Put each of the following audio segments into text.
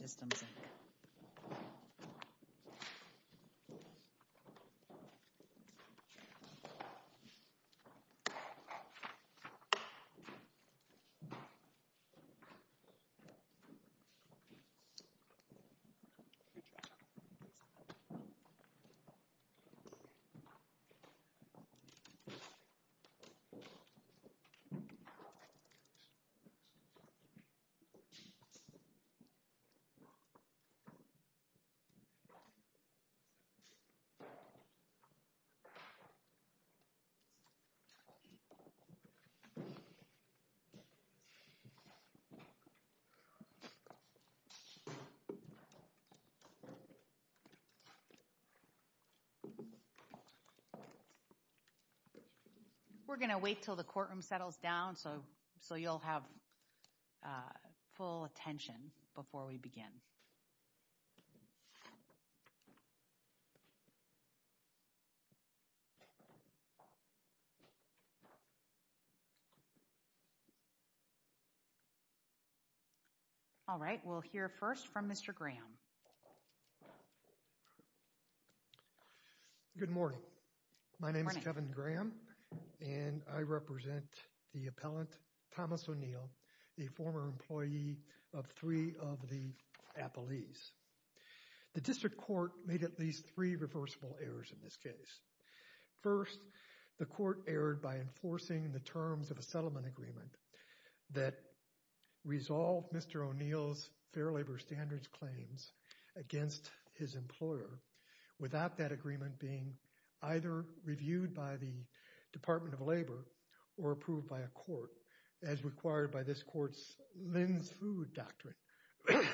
Systems, Inc. We're going to wait until the courtroom settles down so you'll have full attention before we begin. All right. We'll hear first from Mr. Graham. Good morning. My name is Kevin Graham, and I represent the appellant, Thomas O'Neal, a former employee of three of the appellees. The district court made at least three reversible errors in this case. First, the court erred by enforcing the terms of a settlement agreement that resolved Mr. O'Neal's Fair Labor Standards claims against his employer without that agreement being either reviewed by the Department of Labor or approved by a court as required by this court's Lynn's Food Doctrine.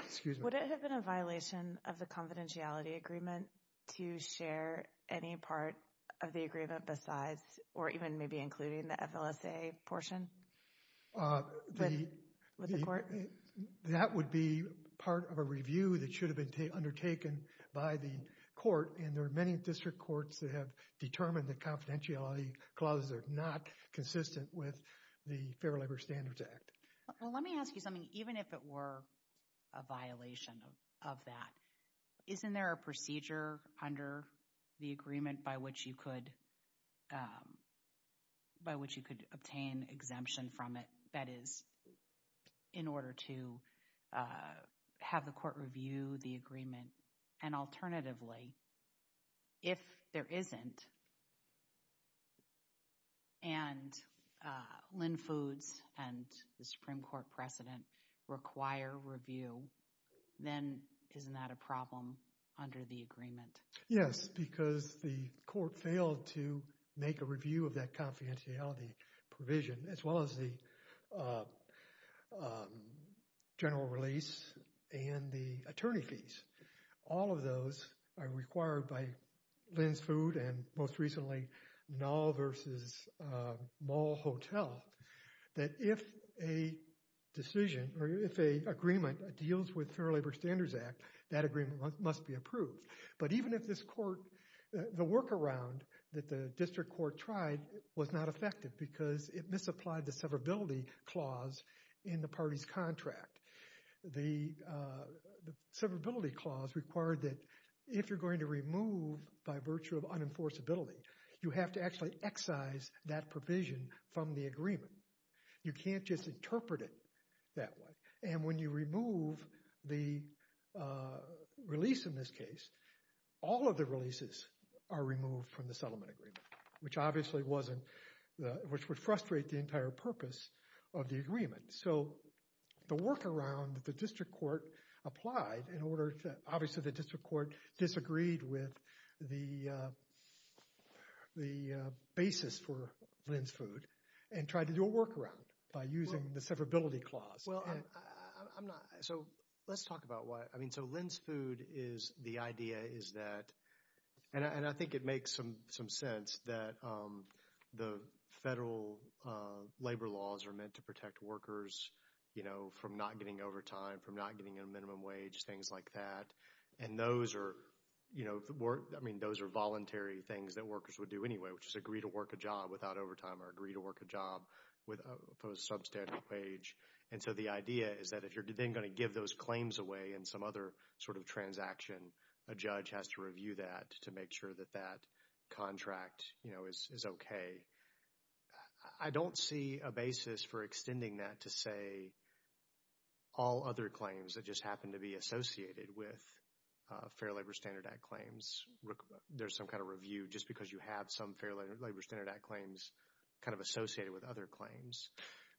Excuse me. Would it have been a violation of the confidentiality agreement to share any part of the agreement besides or even maybe including the FLSA portion with the court? That would be part of a review that should have been undertaken by the court, and there are many district courts that have determined that confidentiality clauses are not consistent with the Fair Labor Standards Act. Well, let me ask you something. Even if it were a violation of that, isn't there a procedure under the agreement by which you could obtain exemption from it, that is, in order to have the court review the agreement? And alternatively, if there isn't and Lynn Foods and the Supreme Court precedent require review, then isn't that a problem under the agreement? Yes, because the court failed to make a review of that confidentiality provision as well as the general release and the attorney fees. All of those are required by Lynn's Food and, most recently, Nall v. Mall Hotel, that if a decision or if a agreement deals with Fair Labor Standards Act, that agreement must be approved. But even if this court, the workaround that the district court tried was not effective because it misapplied the severability clause in the party's contract. The severability clause required that if you're going to remove by virtue of unenforceability, you have to actually excise that provision from the agreement. You can't just interpret it that way. And when you remove the release in this case, all of the releases are removed from the settlement agreement, which obviously would frustrate the entire purpose of the agreement. So the workaround that the district court applied, obviously the district court disagreed with the basis for Lynn's Food and tried to do a workaround by using the severability clause. Well, I'm not, so let's talk about why, I mean, so Lynn's Food is, the idea is that, and I think it makes some sense that the federal labor laws are meant to protect workers, you know, from not getting overtime, from not getting a minimum wage, things like that. And those are, you know, I mean, those are voluntary things that workers would do anyway, which is agree to work a job without overtime or agree to work a job for a substandard wage. And so the idea is that if you're then going to give those claims away in some other sort of transaction, a judge has to review that to make sure that that contract, you know, is okay. I don't see a basis for extending that to, say, all other claims that just happen to be associated with Fair Labor Standard Act claims. There's some kind of review just because you have some Fair Labor Standard Act claims kind of associated with other claims.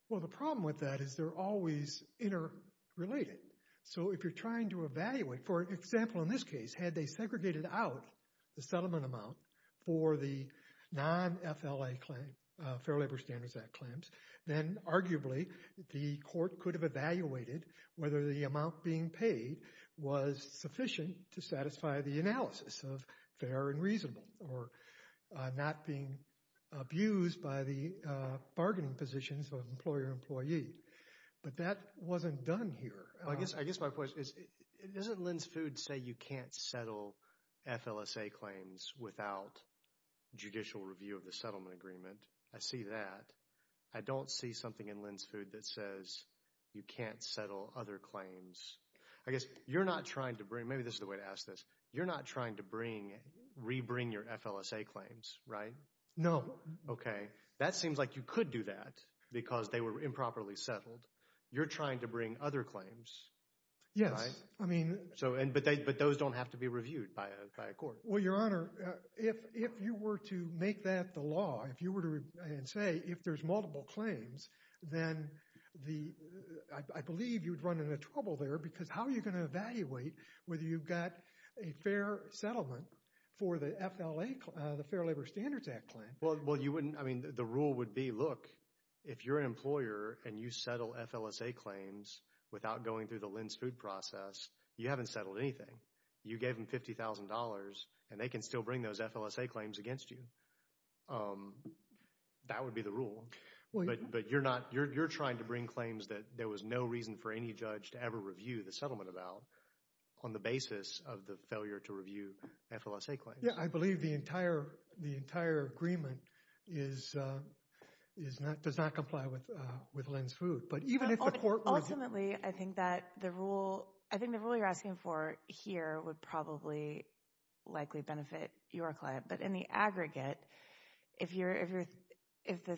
Well, the problem with that is they're always interrelated. So if you're trying to evaluate, for example, in this case, had they segregated out the settlement amount for the non-FLA claim, Fair Labor Standards Act claims, then arguably the court could have evaluated whether the amount being paid was sufficient to satisfy the analysis of fair and reasonable or not being abused by the bargaining positions of employer-employee. But that wasn't done here. I guess my question is, doesn't Lynn's Food say you can't settle FLSA claims without judicial review of the settlement agreement? I see that. I don't see something in Lynn's Food that says you can't settle other claims. I guess you're not trying to bring, maybe this is the way to ask this, you're not trying to bring, re-bring your FLSA claims, right? No. Okay. That seems like you could do that because they were improperly settled. You're trying to bring other claims, right? Yes. I mean. So, but those don't have to be reviewed by a court. Well, Your Honor, if you were to make that the law, if you were to say if there's multiple claims, then the, I believe you would run into trouble there because how are you going to evaluate whether you've got a fair settlement for the FLA, the Fair Labor Standards Act claim? Well, you wouldn't, I mean, the rule would be, look, if you're an employer and you settle FLSA claims without going through the Lynn's Food process, you haven't settled anything. You gave them $50,000 and they can still bring those FLSA claims against you. That would be the rule. But, but you're not, you're, you're trying to bring claims that there was no reason for any judge to ever review the settlement about on the basis of the failure to review FLSA claims. Yeah. I believe the entire, the entire agreement is, is not, does not comply with, with Lynn's Food. But even if the court was. Ultimately, I think that the rule, I think the rule you're asking for here would probably, likely benefit your client. But in the aggregate, if you're, if you're, if the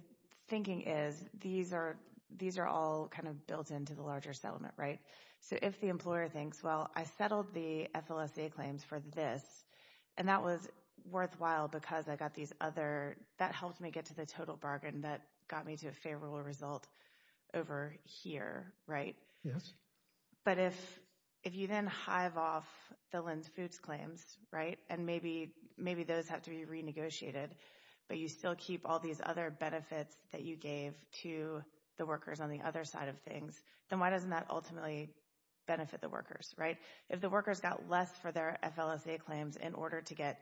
thinking is, these are, these are all kind of built into the larger settlement, right? So if the employer thinks, well, I settled the FLSA claims for this and that was worthwhile because I got these other, that helped me get to the total bargain that got me to a favorable result over here, right? Yes. But if, if you then hive off the Lynn's Foods claims, right? And maybe, maybe those have to be renegotiated, but you still keep all these other benefits that you gave to the workers on the other side of things, then why doesn't that ultimately benefit the workers, right? If the workers got less for their FLSA claims in order to get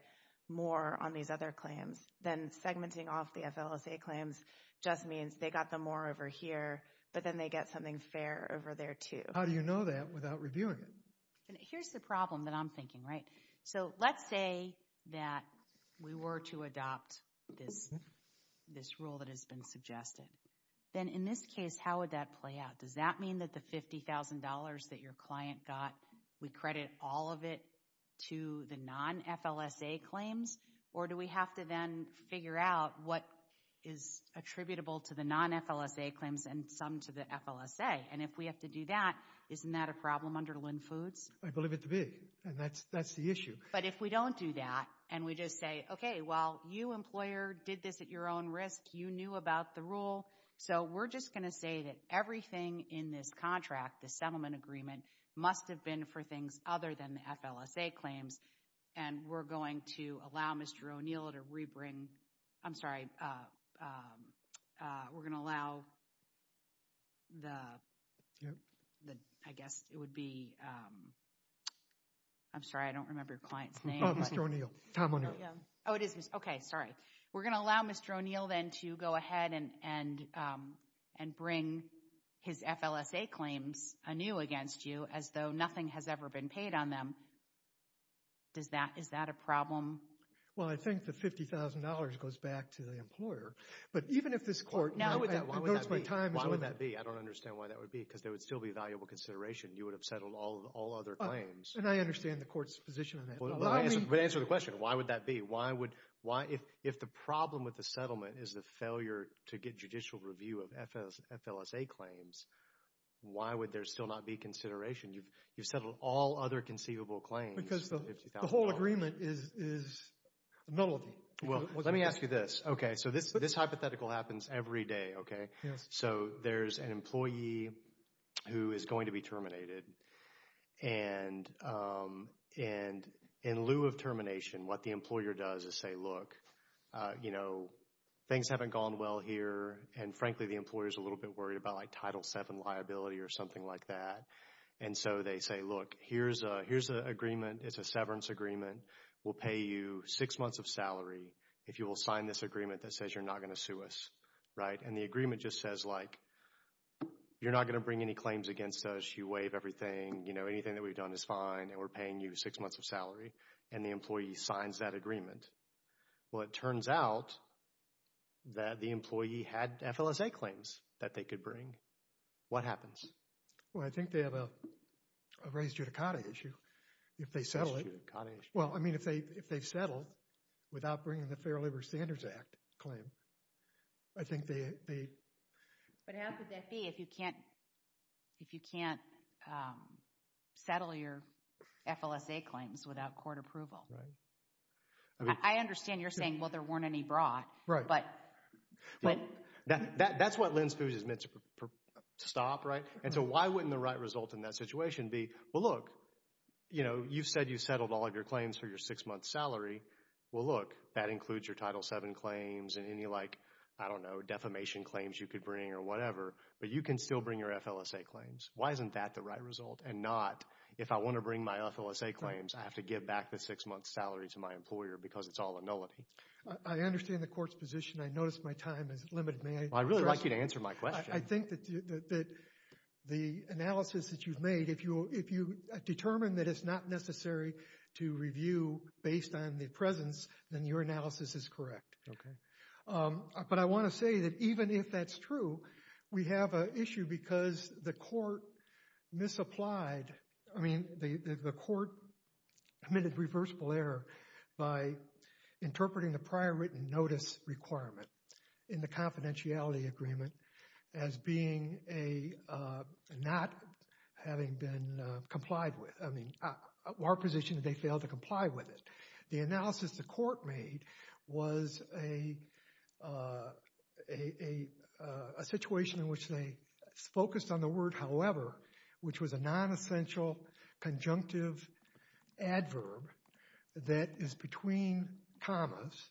more on these other claims, then segmenting off the FLSA claims just means they got the more over here, but then they get something fair over there too. How do you know that without reviewing it? Here's the problem that I'm thinking, right? So let's say that we were to adopt this, this rule that has been suggested, then in this case, how would that play out? Does that mean that the $50,000 that your client got, we credit all of it to the non-FLSA claims or do we have to then figure out what is attributable to the non-FLSA claims and some to the FLSA? And if we have to do that, isn't that a problem under Lend-Foods? I believe it to be, and that's the issue. But if we don't do that and we just say, okay, well, you employer did this at your own risk. You knew about the rule. So we're just going to say that everything in this contract, the settlement agreement must have been for things other than the FLSA claims and we're going to allow Mr. O'Neill to re-bring, I'm sorry, we're going to allow the, I guess it would be, I'm sorry, I don't remember your client's name. Oh, Mr. O'Neill. Tom O'Neill. Oh, it is. Okay, sorry. We're going to allow Mr. O'Neill then to go ahead and bring his FLSA claims anew against you as though nothing has ever been paid on them. Is that a problem? Well, I think the $50,000 goes back to the employer. But even if this court now devotes my time. Why would that be? I don't understand why that would be, because there would still be valuable consideration. You would have settled all other claims. And I understand the court's position on that. But answer the question. Why would that be? Why would, why, if the problem with the settlement is the failure to get judicial review of FLSA claims, why would there still not be consideration? You've settled all other conceivable claims. Because the whole agreement is nullity. Well, let me ask you this. Okay, so this hypothetical happens every day, okay? So there's an employee who is going to be terminated. And in lieu of termination, what the employer does is say, look, you know, things haven't gone well here. And frankly, the employer's a little bit worried about like Title VII liability or something like that. And so they say, look, here's a, here's an agreement. It's a severance agreement. We'll pay you six months of salary if you will sign this agreement that says you're not going to sue us, right? And the agreement just says like, you're not going to bring any claims against us. You waive everything. You know, anything that we've done is fine and we're paying you six months of salary. And the employee signs that agreement. Well, it turns out that the employee had FLSA claims that they could bring. What happens? Well, I think they have a raised judicata issue if they settle it. Raised judicata issue. Well, I mean, if they, if they settle without bringing the Fair Labor Standards Act claim, I think they. But how could that be if you can't, if you can't settle your FLSA claims without court approval? Right. I mean. I understand you're saying, well, there weren't any brought, but. But. But. That, that, that's what Lynn Spooge has meant to stop, right? And so why wouldn't the right result in that situation be, well, look, you know, you said you settled all of your claims for your six months salary. Well, look, that includes your Title VII claims and any like, I don't know, defamation claims you could bring or whatever, but you can still bring your FLSA claims. Why isn't that the right result? And not, if I want to bring my FLSA claims, I have to give back the six months salary to my employer because it's all a nullity. I understand the court's position. I noticed my time is limited. May I? I'd really like you to answer my question. I think that the analysis that you've made, if you, if you determine that it's not necessary to review based on the presence, then your analysis is correct. Okay. But I want to say that even if that's true, we have an issue because the court misapplied. I mean, the court committed reversible error by interpreting the prior written notice requirement in the confidentiality agreement as being a, not having been complied with. I mean, our position is they failed to comply with it. The analysis the court made was a situation in which they focused on the word however, which was a non-essential conjunctive adverb that is between commas.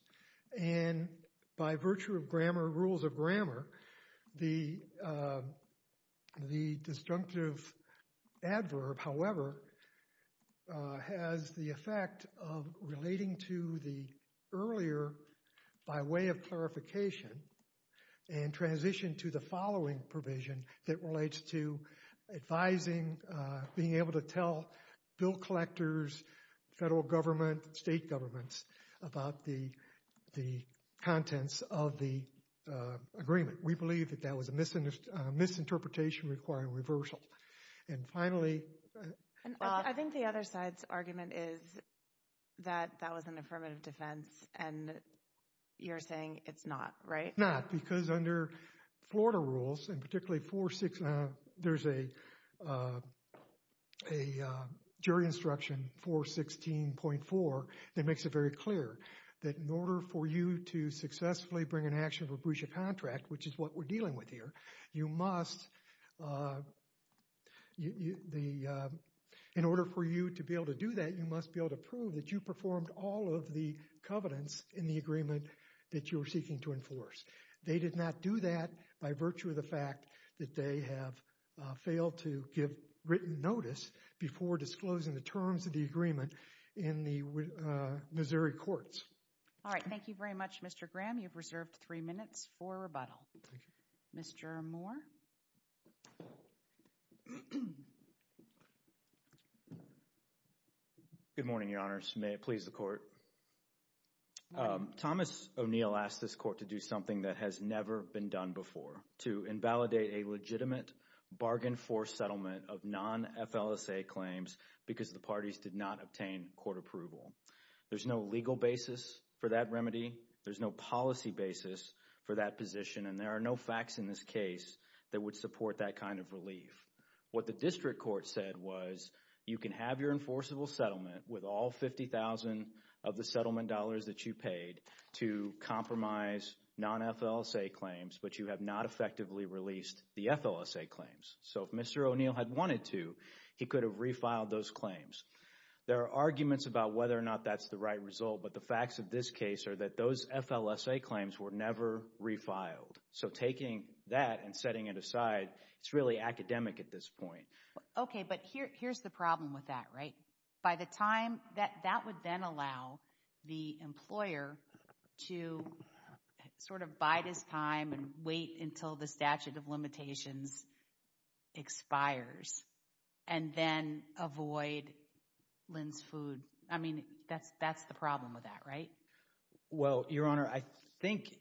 And by virtue of grammar, rules of grammar, the disjunctive adverb, however, has the effect of relating to the earlier by way of clarification and transition to the following provision that relates to advising, being able to tell bill collectors, federal government, state governments about the contents of the agreement. We believe that that was a misinterpretation requiring reversal. And finally. I think the other side's argument is that that was an affirmative defense and you're saying it's not, right? It's not because under Florida rules, and particularly 416, there's a jury instruction 416.4 that makes it very clear that in order for you to successfully bring an action for breach of contract, which is what we're dealing with here, you must, in order for you to be able to do that, you must be able to prove that you performed all of the covenants in the agreement that you were seeking to enforce. They did not do that by virtue of the fact that they have failed to give written notice before disclosing the terms of the agreement in the Missouri courts. All right. Thank you very much, Mr. Graham. You've reserved three minutes for rebuttal. Mr. Moore. Good morning, Your Honors. May it please the Court. Thomas O'Neill asked this Court to do something that has never been done before, to invalidate a legitimate bargain-force settlement of non-FLSA claims because the parties did not obtain court approval. There's no legal basis for that remedy. There's no policy basis for that position, and there are no facts in this case that would support that kind of relief. What the district court said was you can have your enforceable settlement with all $50,000 of the settlement dollars that you paid to compromise non-FLSA claims, but you have not effectively released the FLSA claims. So if Mr. O'Neill had wanted to, he could have refiled those claims. There are arguments about whether or not that's the right result, but the facts of this case are that those FLSA claims were never refiled. So taking that and setting it aside, it's really academic at this point. Okay, but here's the problem with that, right? By the time that that would then allow the employer to sort of bide his time and wait until the statute of limitations expires and then avoid Lynn's food. I mean, that's the problem with that, right? Well, Your Honor, I think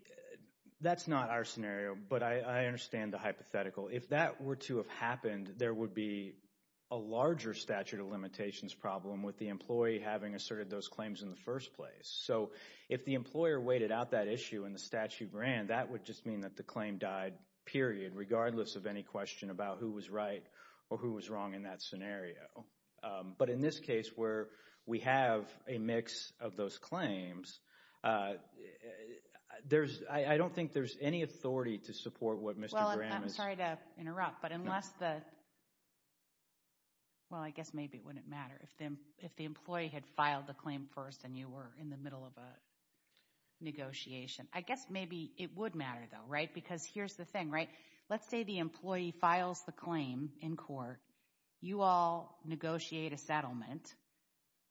that's not our scenario, but I understand the hypothetical. If that were to have happened, there would be a larger statute of limitations problem with the employee having asserted those claims in the first place. So if the employer waited out that issue and the statute ran, that would just mean that the claim died, period, regardless of any question about who was right or who was wrong in that scenario. But in this case where we have a mix of those claims, there's, I don't think there's any authority to support what Mr. Graham is saying. Well, I'm sorry to interrupt, but unless the, well, I guess maybe it wouldn't matter if the employee had filed the claim first and you were in the middle of a negotiation. I guess maybe it would matter though, right? Because here's the thing, right? Let's say the employee files the claim in court, you all negotiate a settlement,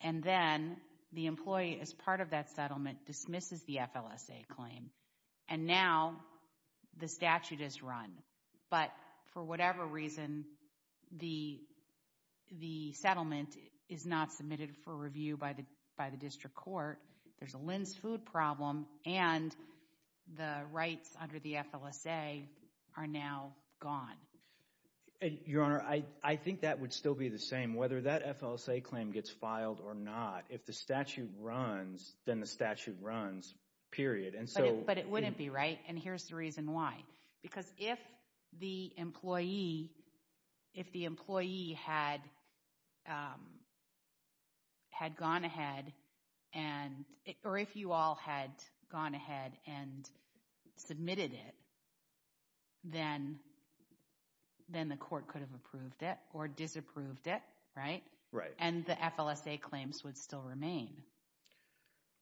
and then the employee as part of that settlement dismisses the FLSA claim. And now the statute is run, but for whatever reason, the settlement is not submitted for review by the district court. There's a Lynn's food problem, and the rights under the FLSA are now gone. Your Honor, I think that would still be the same whether that FLSA claim gets filed or not. If the statute runs, then the statute runs, period. But it wouldn't be, right? And here's the reason why. Because if the employee had gone ahead and, or if you all had gone ahead and submitted it, then the court could have approved it or disapproved it, right? And the FLSA claims would still remain.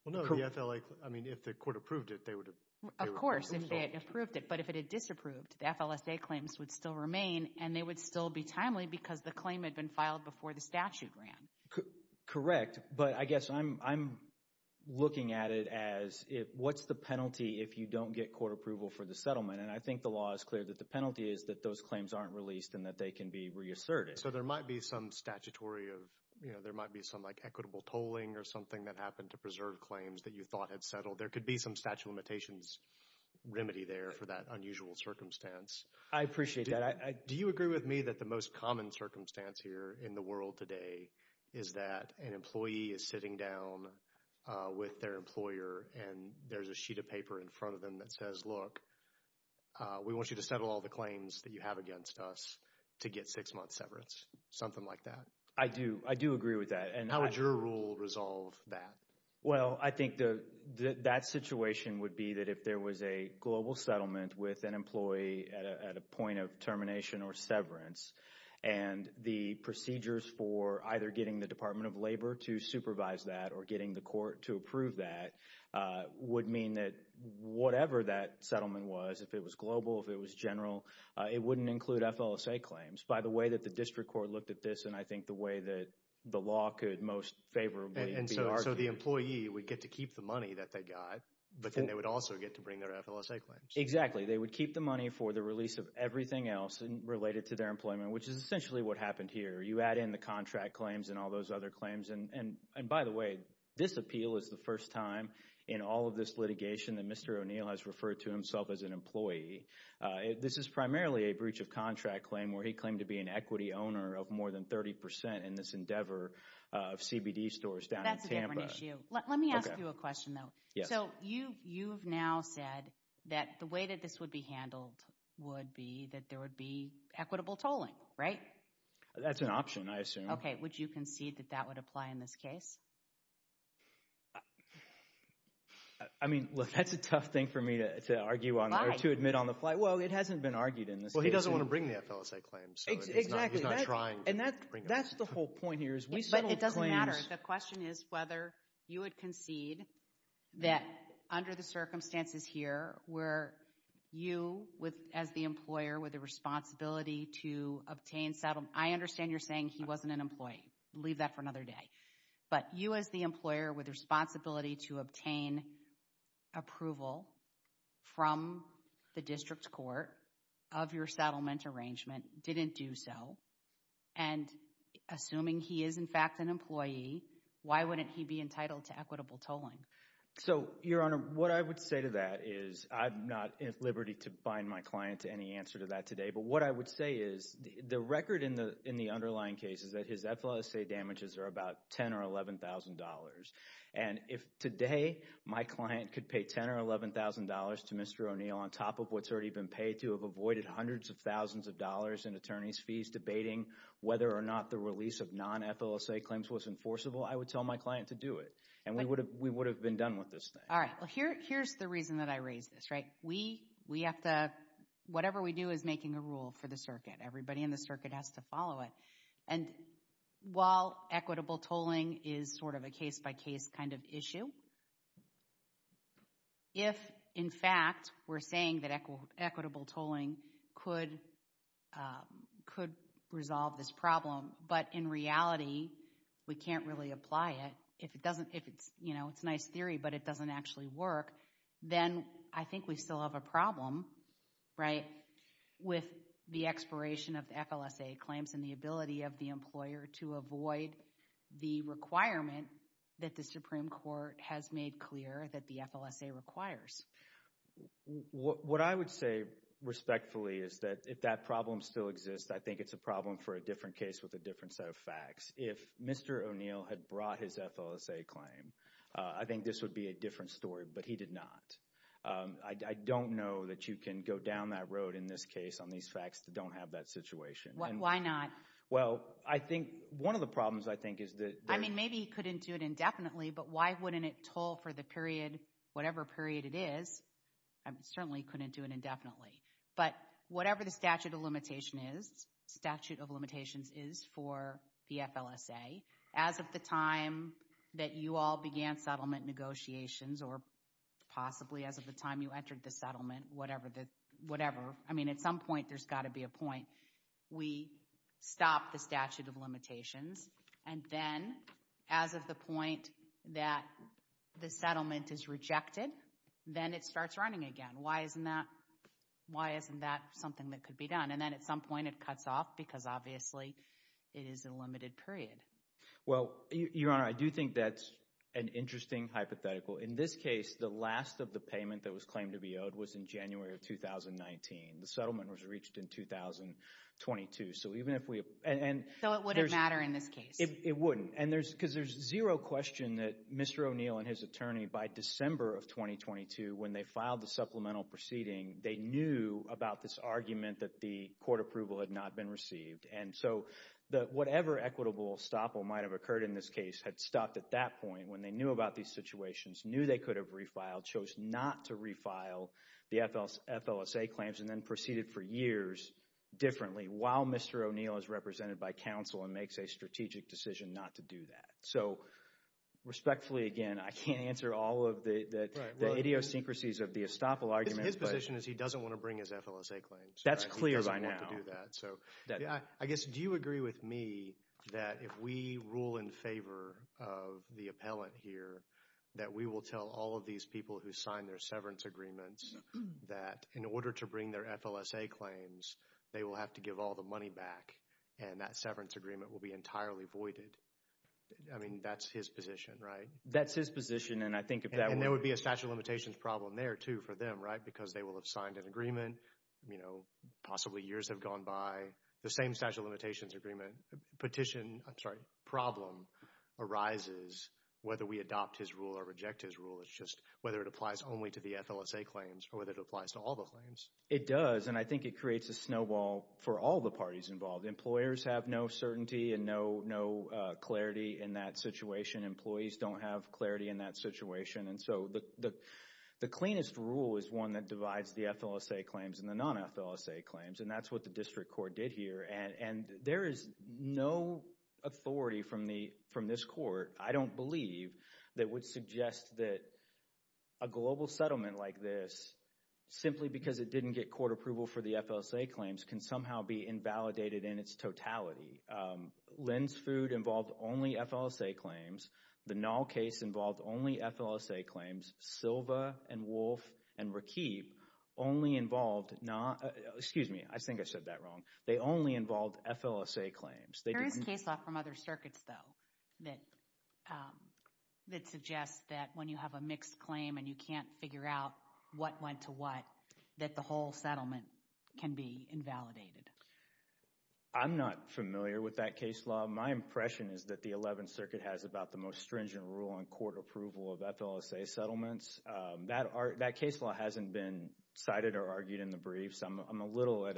Well, no, the FLSA, I mean, if the court approved it, they would have- Of course, if they had approved it. But if it had disapproved, the FLSA claims would still remain, and they would still be timely because the claim had been filed before the statute ran. Correct. But I guess I'm looking at it as, what's the penalty if you don't get court approval for the settlement? And I think the law is clear that the penalty is that those claims aren't released and that they can be reasserted. So there might be some statutory of, you know, there might be some like equitable tolling or something that happened to preserve claims that you thought had settled. There could be some statute of limitations remedy there for that unusual circumstance. I appreciate that. Do you agree with me that the most common circumstance here in the world today is that an employee is sitting down with their employer and there's a sheet of paper in front of them that says, look, we want you to settle all the claims that you have against us to get six months severance, something like that? I do. I do agree with that. And how would your rule resolve that? Well, I think that situation would be that if there was a global settlement with an employee at a point of termination or severance and the procedures for either getting the Department of Labor to supervise that or getting the court to approve that would mean that whatever that settlement was, if it was global, if it was general, it wouldn't include FLSA claims. By the way that the district court looked at this and I think the way that the law could most favorably be argued. So the employee would get to keep the money that they got, but then they would also get to bring their FLSA claims. Exactly. They would keep the money for the release of everything else related to their employment, which is essentially what happened here. You add in the contract claims and all those other claims. And by the way, this appeal is the first time in all of this litigation that Mr. O'Neill has referred to himself as an employee. This is primarily a breach of contract claim where he claimed to be an equity owner of more than 30% in this endeavor of CBD stores down in Tampa. That's a different issue. Let me ask you a question though. Yes. So you've now said that the way that this would be handled would be that there would be equitable tolling, right? That's an option, I assume. Okay. Would you concede that that would apply in this case? I mean, look, that's a tough thing for me to argue on or to admit on the fly. Well, it hasn't been argued in this case. Well, he doesn't want to bring the FLSA claims. Exactly. He's not trying to bring them up. And that's the whole point here. But it doesn't matter. The question is whether you would concede that under the circumstances here where you as the employer with a responsibility to obtain settlement. I understand you're saying he wasn't an employee. Leave that for another day. But you as the employer with a responsibility to obtain approval from the district court of your settlement arrangement didn't do so. And assuming he is in fact an employee, why wouldn't he be entitled to equitable tolling? So Your Honor, what I would say to that is I'm not at liberty to bind my client to any answer to that today. But what I would say is the record in the underlying case is that his FLSA damages are about $10,000 or $11,000. And if today my client could pay $10,000 or $11,000 to Mr. O'Neill on top of what's already been paid to have avoided hundreds of thousands of dollars in attorney's fees debating whether or not the release of non-FLSA claims was enforceable, I would tell my client to do it. And we would have been done with this thing. All right. Well, here's the reason that I raise this, right? Whatever we do is making a rule for the circuit. Everybody in the circuit has to follow it. And while equitable tolling is sort of a case-by-case kind of issue, if in fact we're saying that equitable tolling could resolve this problem, but in reality, we can't really apply it, if it doesn't, if it's, you know, it's a nice theory, but it doesn't actually work, then I think we still have a problem, right, with the expiration of the FLSA claims and the ability of the employer to avoid the requirement that the Supreme Court has made clear that the FLSA requires. What I would say respectfully is that if that problem still exists, I think it's a problem for a different case with a different set of facts. If Mr. O'Neill had brought his FLSA claim, I think this would be a different story, but he did not. I don't know that you can go down that road in this case on these facts that don't have that situation. Why not? Well, I think one of the problems, I think, is that... I mean, maybe he couldn't do it indefinitely, but why wouldn't it toll for the period, whatever period it is, I certainly couldn't do it indefinitely. But whatever the statute of limitation is, statute of limitations is for the FLSA, as of the time that you all began settlement negotiations, or possibly as of the time you entered the settlement, whatever, I mean, at some point, there's got to be a point, we stop the statute of limitations, and then, as of the point that the settlement is rejected, then it starts running again. Why isn't that something that could be done? And then at some point, it cuts off, because obviously, it is a limited period. Well, Your Honor, I do think that's an interesting hypothetical. In this case, the last of the payment that was claimed to be owed was in January of 2019. The settlement was reached in 2022. So even if we... So it wouldn't matter in this case? It wouldn't, because there's zero question that Mr. O'Neill and his attorney, by December of 2022, when they filed the supplemental proceeding, they knew about this argument that the court approval had not been received. And so, whatever equitable estoppel might have occurred in this case had stopped at that point, when they knew about these situations, knew they could have refiled, chose not to refile the FLSA claims, and then proceeded for years differently, while Mr. O'Neill is represented by counsel and makes a strategic decision not to do that. So respectfully, again, I can't answer all of the idiosyncrasies of the estoppel argument. His position is he doesn't want to bring his FLSA claims. That's clear by now. He doesn't want to do that. I guess, do you agree with me that if we rule in favor of the appellant here, that we will tell all of these people who signed their severance agreements that, in order to bring their FLSA claims, they will have to give all the money back, and that severance agreement will be entirely voided? I mean, that's his position, right? That's his position, and I think if that were— And there would be a statute of limitations problem there, too, for them, right? Because they will have signed an agreement, you know, possibly years have gone by. The same statute of limitations agreement petition, I'm sorry, problem arises whether we adopt his rule or reject his rule. It's just whether it applies only to the FLSA claims or whether it applies to all the claims. It does, and I think it creates a snowball for all the parties involved. Employers have no certainty and no clarity in that situation. Employees don't have clarity in that situation, and so the cleanest rule is one that divides the FLSA claims and the non-FLSA claims, and that's what the district court did here. And there is no authority from this court. I don't believe that would suggest that a global settlement like this, simply because it didn't get court approval for the FLSA claims, can somehow be invalidated in its totality. Lynn's food involved only FLSA claims. The Nall case involved only FLSA claims. Silva and Wolfe and Rakip only involved—excuse me, I think I said that wrong. They only involved FLSA claims. There is case law from other circuits, though, that suggests that when you have a mixed claim and you can't figure out what went to what, that the whole settlement can be invalidated. I'm not familiar with that case law. My impression is that the Eleventh Circuit has about the most stringent rule on court approval of FLSA settlements. That case law hasn't been cited or argued in the briefs. I'm a little at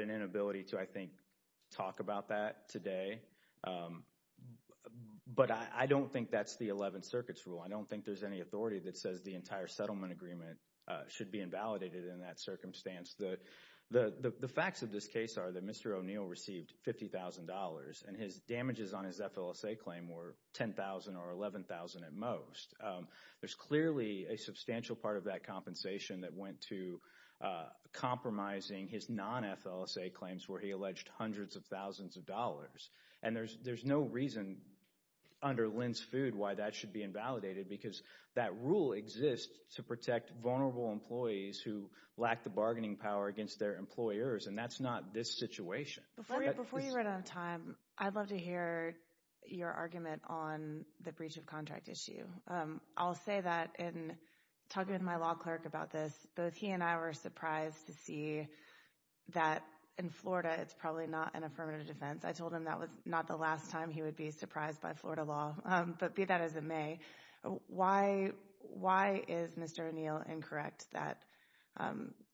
an inability to, I think, talk about that today. But I don't think that's the Eleventh Circuit's rule. I don't think there's any authority that says the entire settlement agreement should be invalidated in that circumstance. The facts of this case are that Mr. O'Neill received $50,000, and his damages on his FLSA claim were $10,000 or $11,000 at most. There's clearly a substantial part of that compensation that went to compromising his non-FLSA claims, where he alleged hundreds of thousands of dollars. And there's no reason under Lin's food why that should be invalidated, because that rule exists to protect vulnerable employees who lack the bargaining power against their employers, and that's not this situation. Before you run out of time, I'd love to hear your argument on the breach of contract issue. I'll say that in talking to my law clerk about this, both he and I were surprised to see that in Florida, it's probably not an affirmative defense. I told him that was not the last time he would be surprised by Florida law, but be that as it may, why is Mr. O'Neill incorrect that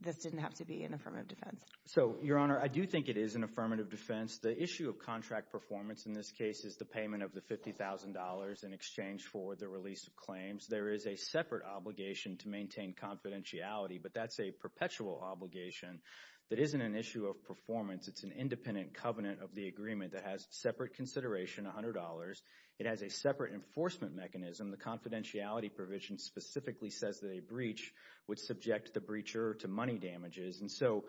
this didn't have to be an affirmative defense? So Your Honor, I do think it is an affirmative defense. The issue of contract performance in this case is the payment of the $50,000 in exchange for the release of claims. There is a separate obligation to maintain confidentiality, but that's a perpetual obligation that isn't an issue of performance. It's an independent covenant of the agreement that has separate consideration, $100. It has a separate enforcement mechanism. The confidentiality provision specifically says that a breach would subject the breacher to money damages, and so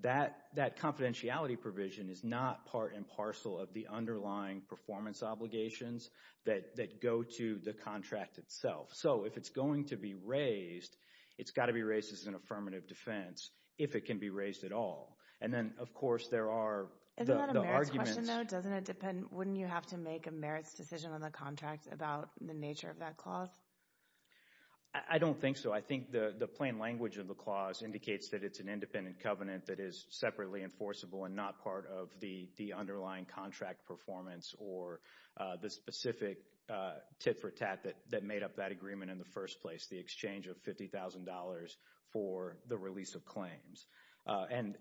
that confidentiality provision is not part and parcel of the underlying performance obligations that go to the contract itself. So if it's going to be raised, it's got to be raised as an affirmative defense, if it can be raised at all. And then, of course, there are the arguments— Isn't that a merits question, though? Doesn't it depend—wouldn't you have to make a merits decision on the contract about the nature of that clause? I don't think so. I think the plain language of the clause indicates that it's an independent covenant that is separately enforceable and not part of the underlying contract performance or the specific tit-for-tat that made up that agreement in the first place, the exchange of $50,000 for the release of claims. And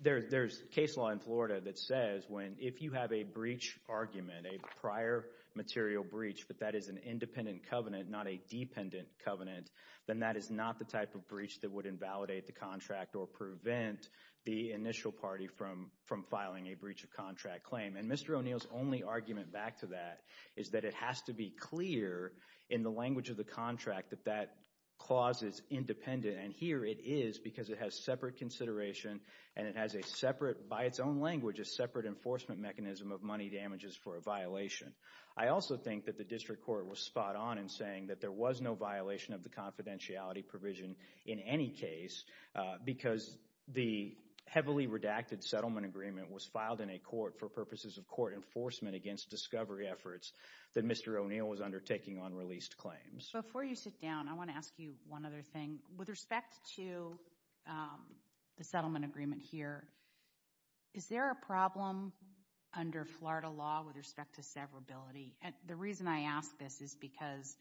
there's case law in Florida that says when—if you have a breach argument, a prior material breach, but that is an independent covenant, not a dependent covenant, then that is not the type of breach that would invalidate the contract or prevent the initial party from filing a breach of contract claim. And Mr. O'Neill's only argument back to that is that it has to be clear in the language of the contract that that clause is independent, and here it is because it has separate consideration and it has a separate—by its own language, a separate enforcement mechanism of money damages for a violation. I also think that the district court was spot on in saying that there was no violation of the confidentiality provision in any case because the heavily redacted settlement agreement was filed in a court for purposes of court enforcement against discovery efforts that Mr. O'Neill was undertaking on released claims. Before you sit down, I want to ask you one other thing. With respect to the settlement agreement here, is there a problem under Florida law with respect to severability? The reason I ask this is because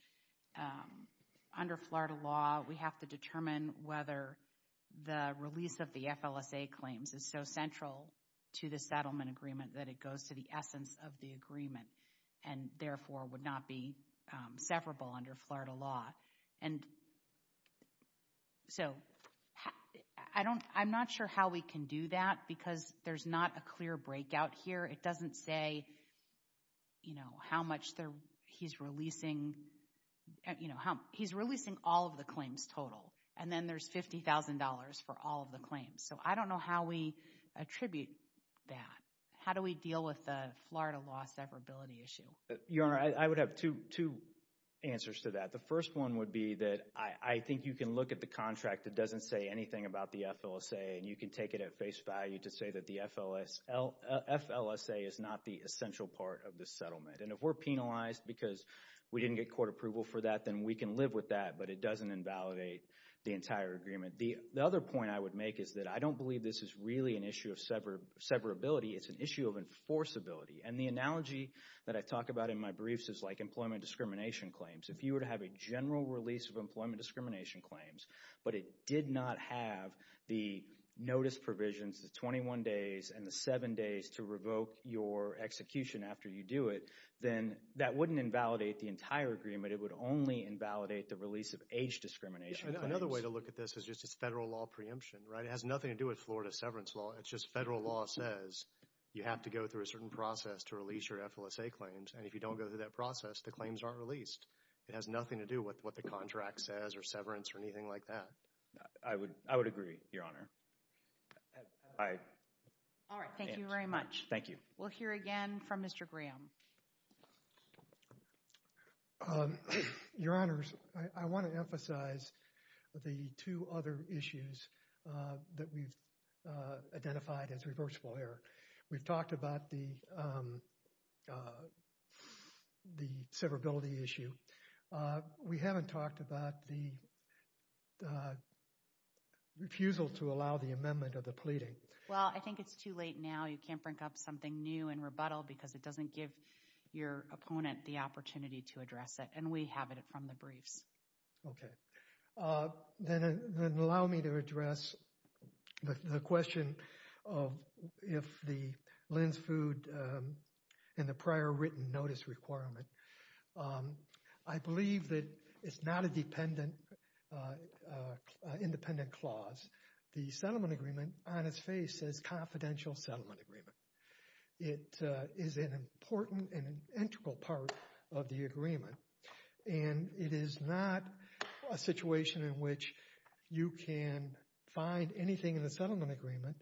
under Florida law, we have to determine whether the release of the FLSA claims is so central to the settlement agreement that it goes to the essence of the agreement and therefore would not be severable under Florida law. And so, I'm not sure how we can do that because there's not a clear breakout here. It doesn't say, you know, how much he's releasing, you know, how—he's releasing all of the claims total and then there's $50,000 for all of the claims. So, I don't know how we attribute that. How do we deal with the Florida law severability issue? Your Honor, I would have two answers to that. The first one would be that I think you can look at the contract. It doesn't say anything about the FLSA and you can take it at face value to say that the FLSA is not the essential part of the settlement. And if we're penalized because we didn't get court approval for that, then we can live with that, but it doesn't invalidate the entire agreement. The other point I would make is that I don't believe this is really an issue of severability. It's an issue of enforceability. And the analogy that I talk about in my briefs is like employment discrimination claims. If you were to have a general release of employment discrimination claims, but it did not have the notice provisions, the 21 days and the seven days to revoke your execution after you do it, then that wouldn't invalidate the entire agreement. It would only invalidate the release of age discrimination claims. Another way to look at this is just as federal law preemption, right? It has nothing to do with Florida severance law. It's just federal law says you have to go through a certain process to release your FLSA claims. And if you don't go through that process, the claims aren't released. It has nothing to do with what the contract says or severance or anything like that. I would agree, Your Honor. All right, thank you very much. Thank you. We'll hear again from Mr. Graham. Your Honors, I want to emphasize the two other issues that we've identified as reversible error. We've talked about the severability issue. We haven't talked about the refusal to allow the amendment of the pleading. Well, I think it's too late now. You can't bring up something new and rebuttal because it doesn't give your opponent the opportunity to address it. And we have it from the briefs. Okay. Then allow me to address the question of if the Lin's Food and the prior written notice requirement, I believe that it's not an independent clause. The settlement agreement on its face says confidential settlement agreement. It is an important and integral part of the agreement. And it is not a situation in which you can find anything in the settlement agreement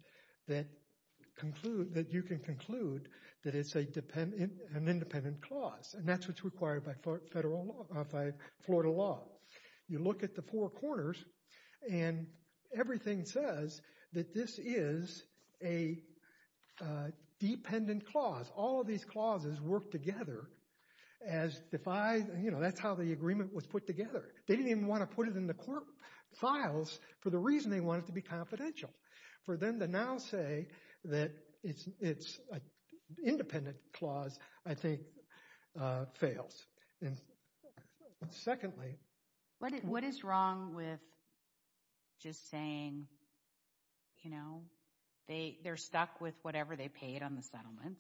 that you can conclude that it's an independent clause. And that's what's required by Florida law. You look at the four corners and everything says that this is a dependent clause. All of these clauses work together. That's how the agreement was put together. They didn't even want to put it in the court files for the reason they want it to be confidential. For them to now say that it's an independent clause, I think, fails. And secondly... What is wrong with just saying, you know, they're stuck with whatever they paid on the settlement.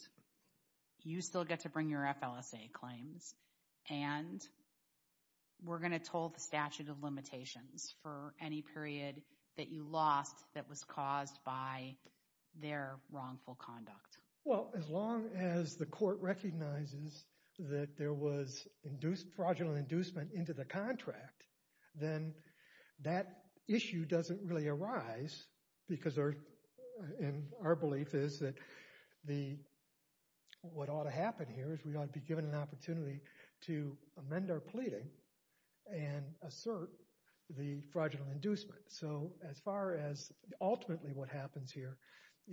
You still get to bring your FLSA claims. And we're going to toll the statute of limitations for any period that you lost that was caused by their wrongful conduct. Well, as long as the court recognizes that there was fraudulent inducement into the contract, then that issue doesn't really arise. Because our belief is that what ought to happen here is we ought to be given an opportunity to amend our pleading and assert the fraudulent inducement. So as far as ultimately what happens here,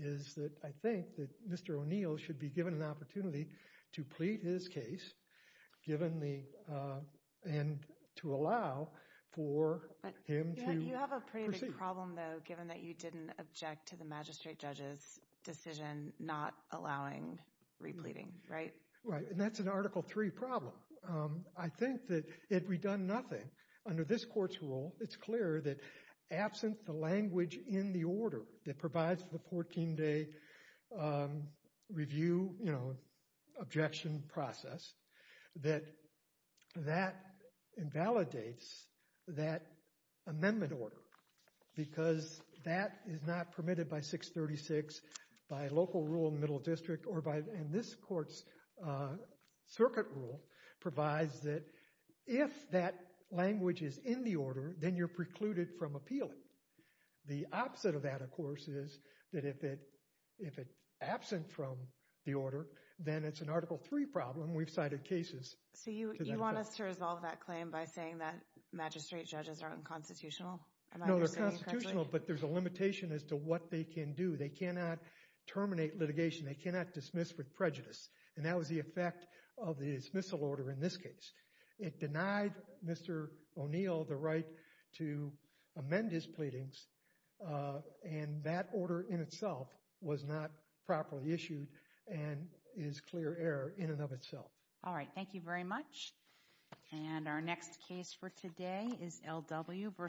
is that I think that Mr. O'Neill should be given an opportunity to plead his case, and to allow for him to proceed. There's a problem, though, given that you didn't object to the magistrate judge's decision not allowing repleading, right? Right, and that's an Article III problem. I think that if we'd done nothing, under this court's rule, it's clear that absent the language in the order that provides the 14-day review, you know, objection process, that that invalidates that amendment order. Because that is not permitted by 636, by local rule in the middle district, and this court's circuit rule provides that if that language is in the order, then you're precluded from appealing. The opposite of that, of course, is that if it's absent from the order, then it's an Article III problem. We've cited cases. So you want us to resolve that claim by saying that magistrate judges are unconstitutional? No, they're constitutional, but there's a limitation as to what they can do. They cannot terminate litigation. They cannot dismiss with prejudice. And that was the effect of the dismissal order in this case. It denied Mr. O'Neill the right to amend his pleadings, and that order in itself was not properly issued and is clear error in and of itself. All right, thank you very much. And our next case for today is L.W. v. O'Neill.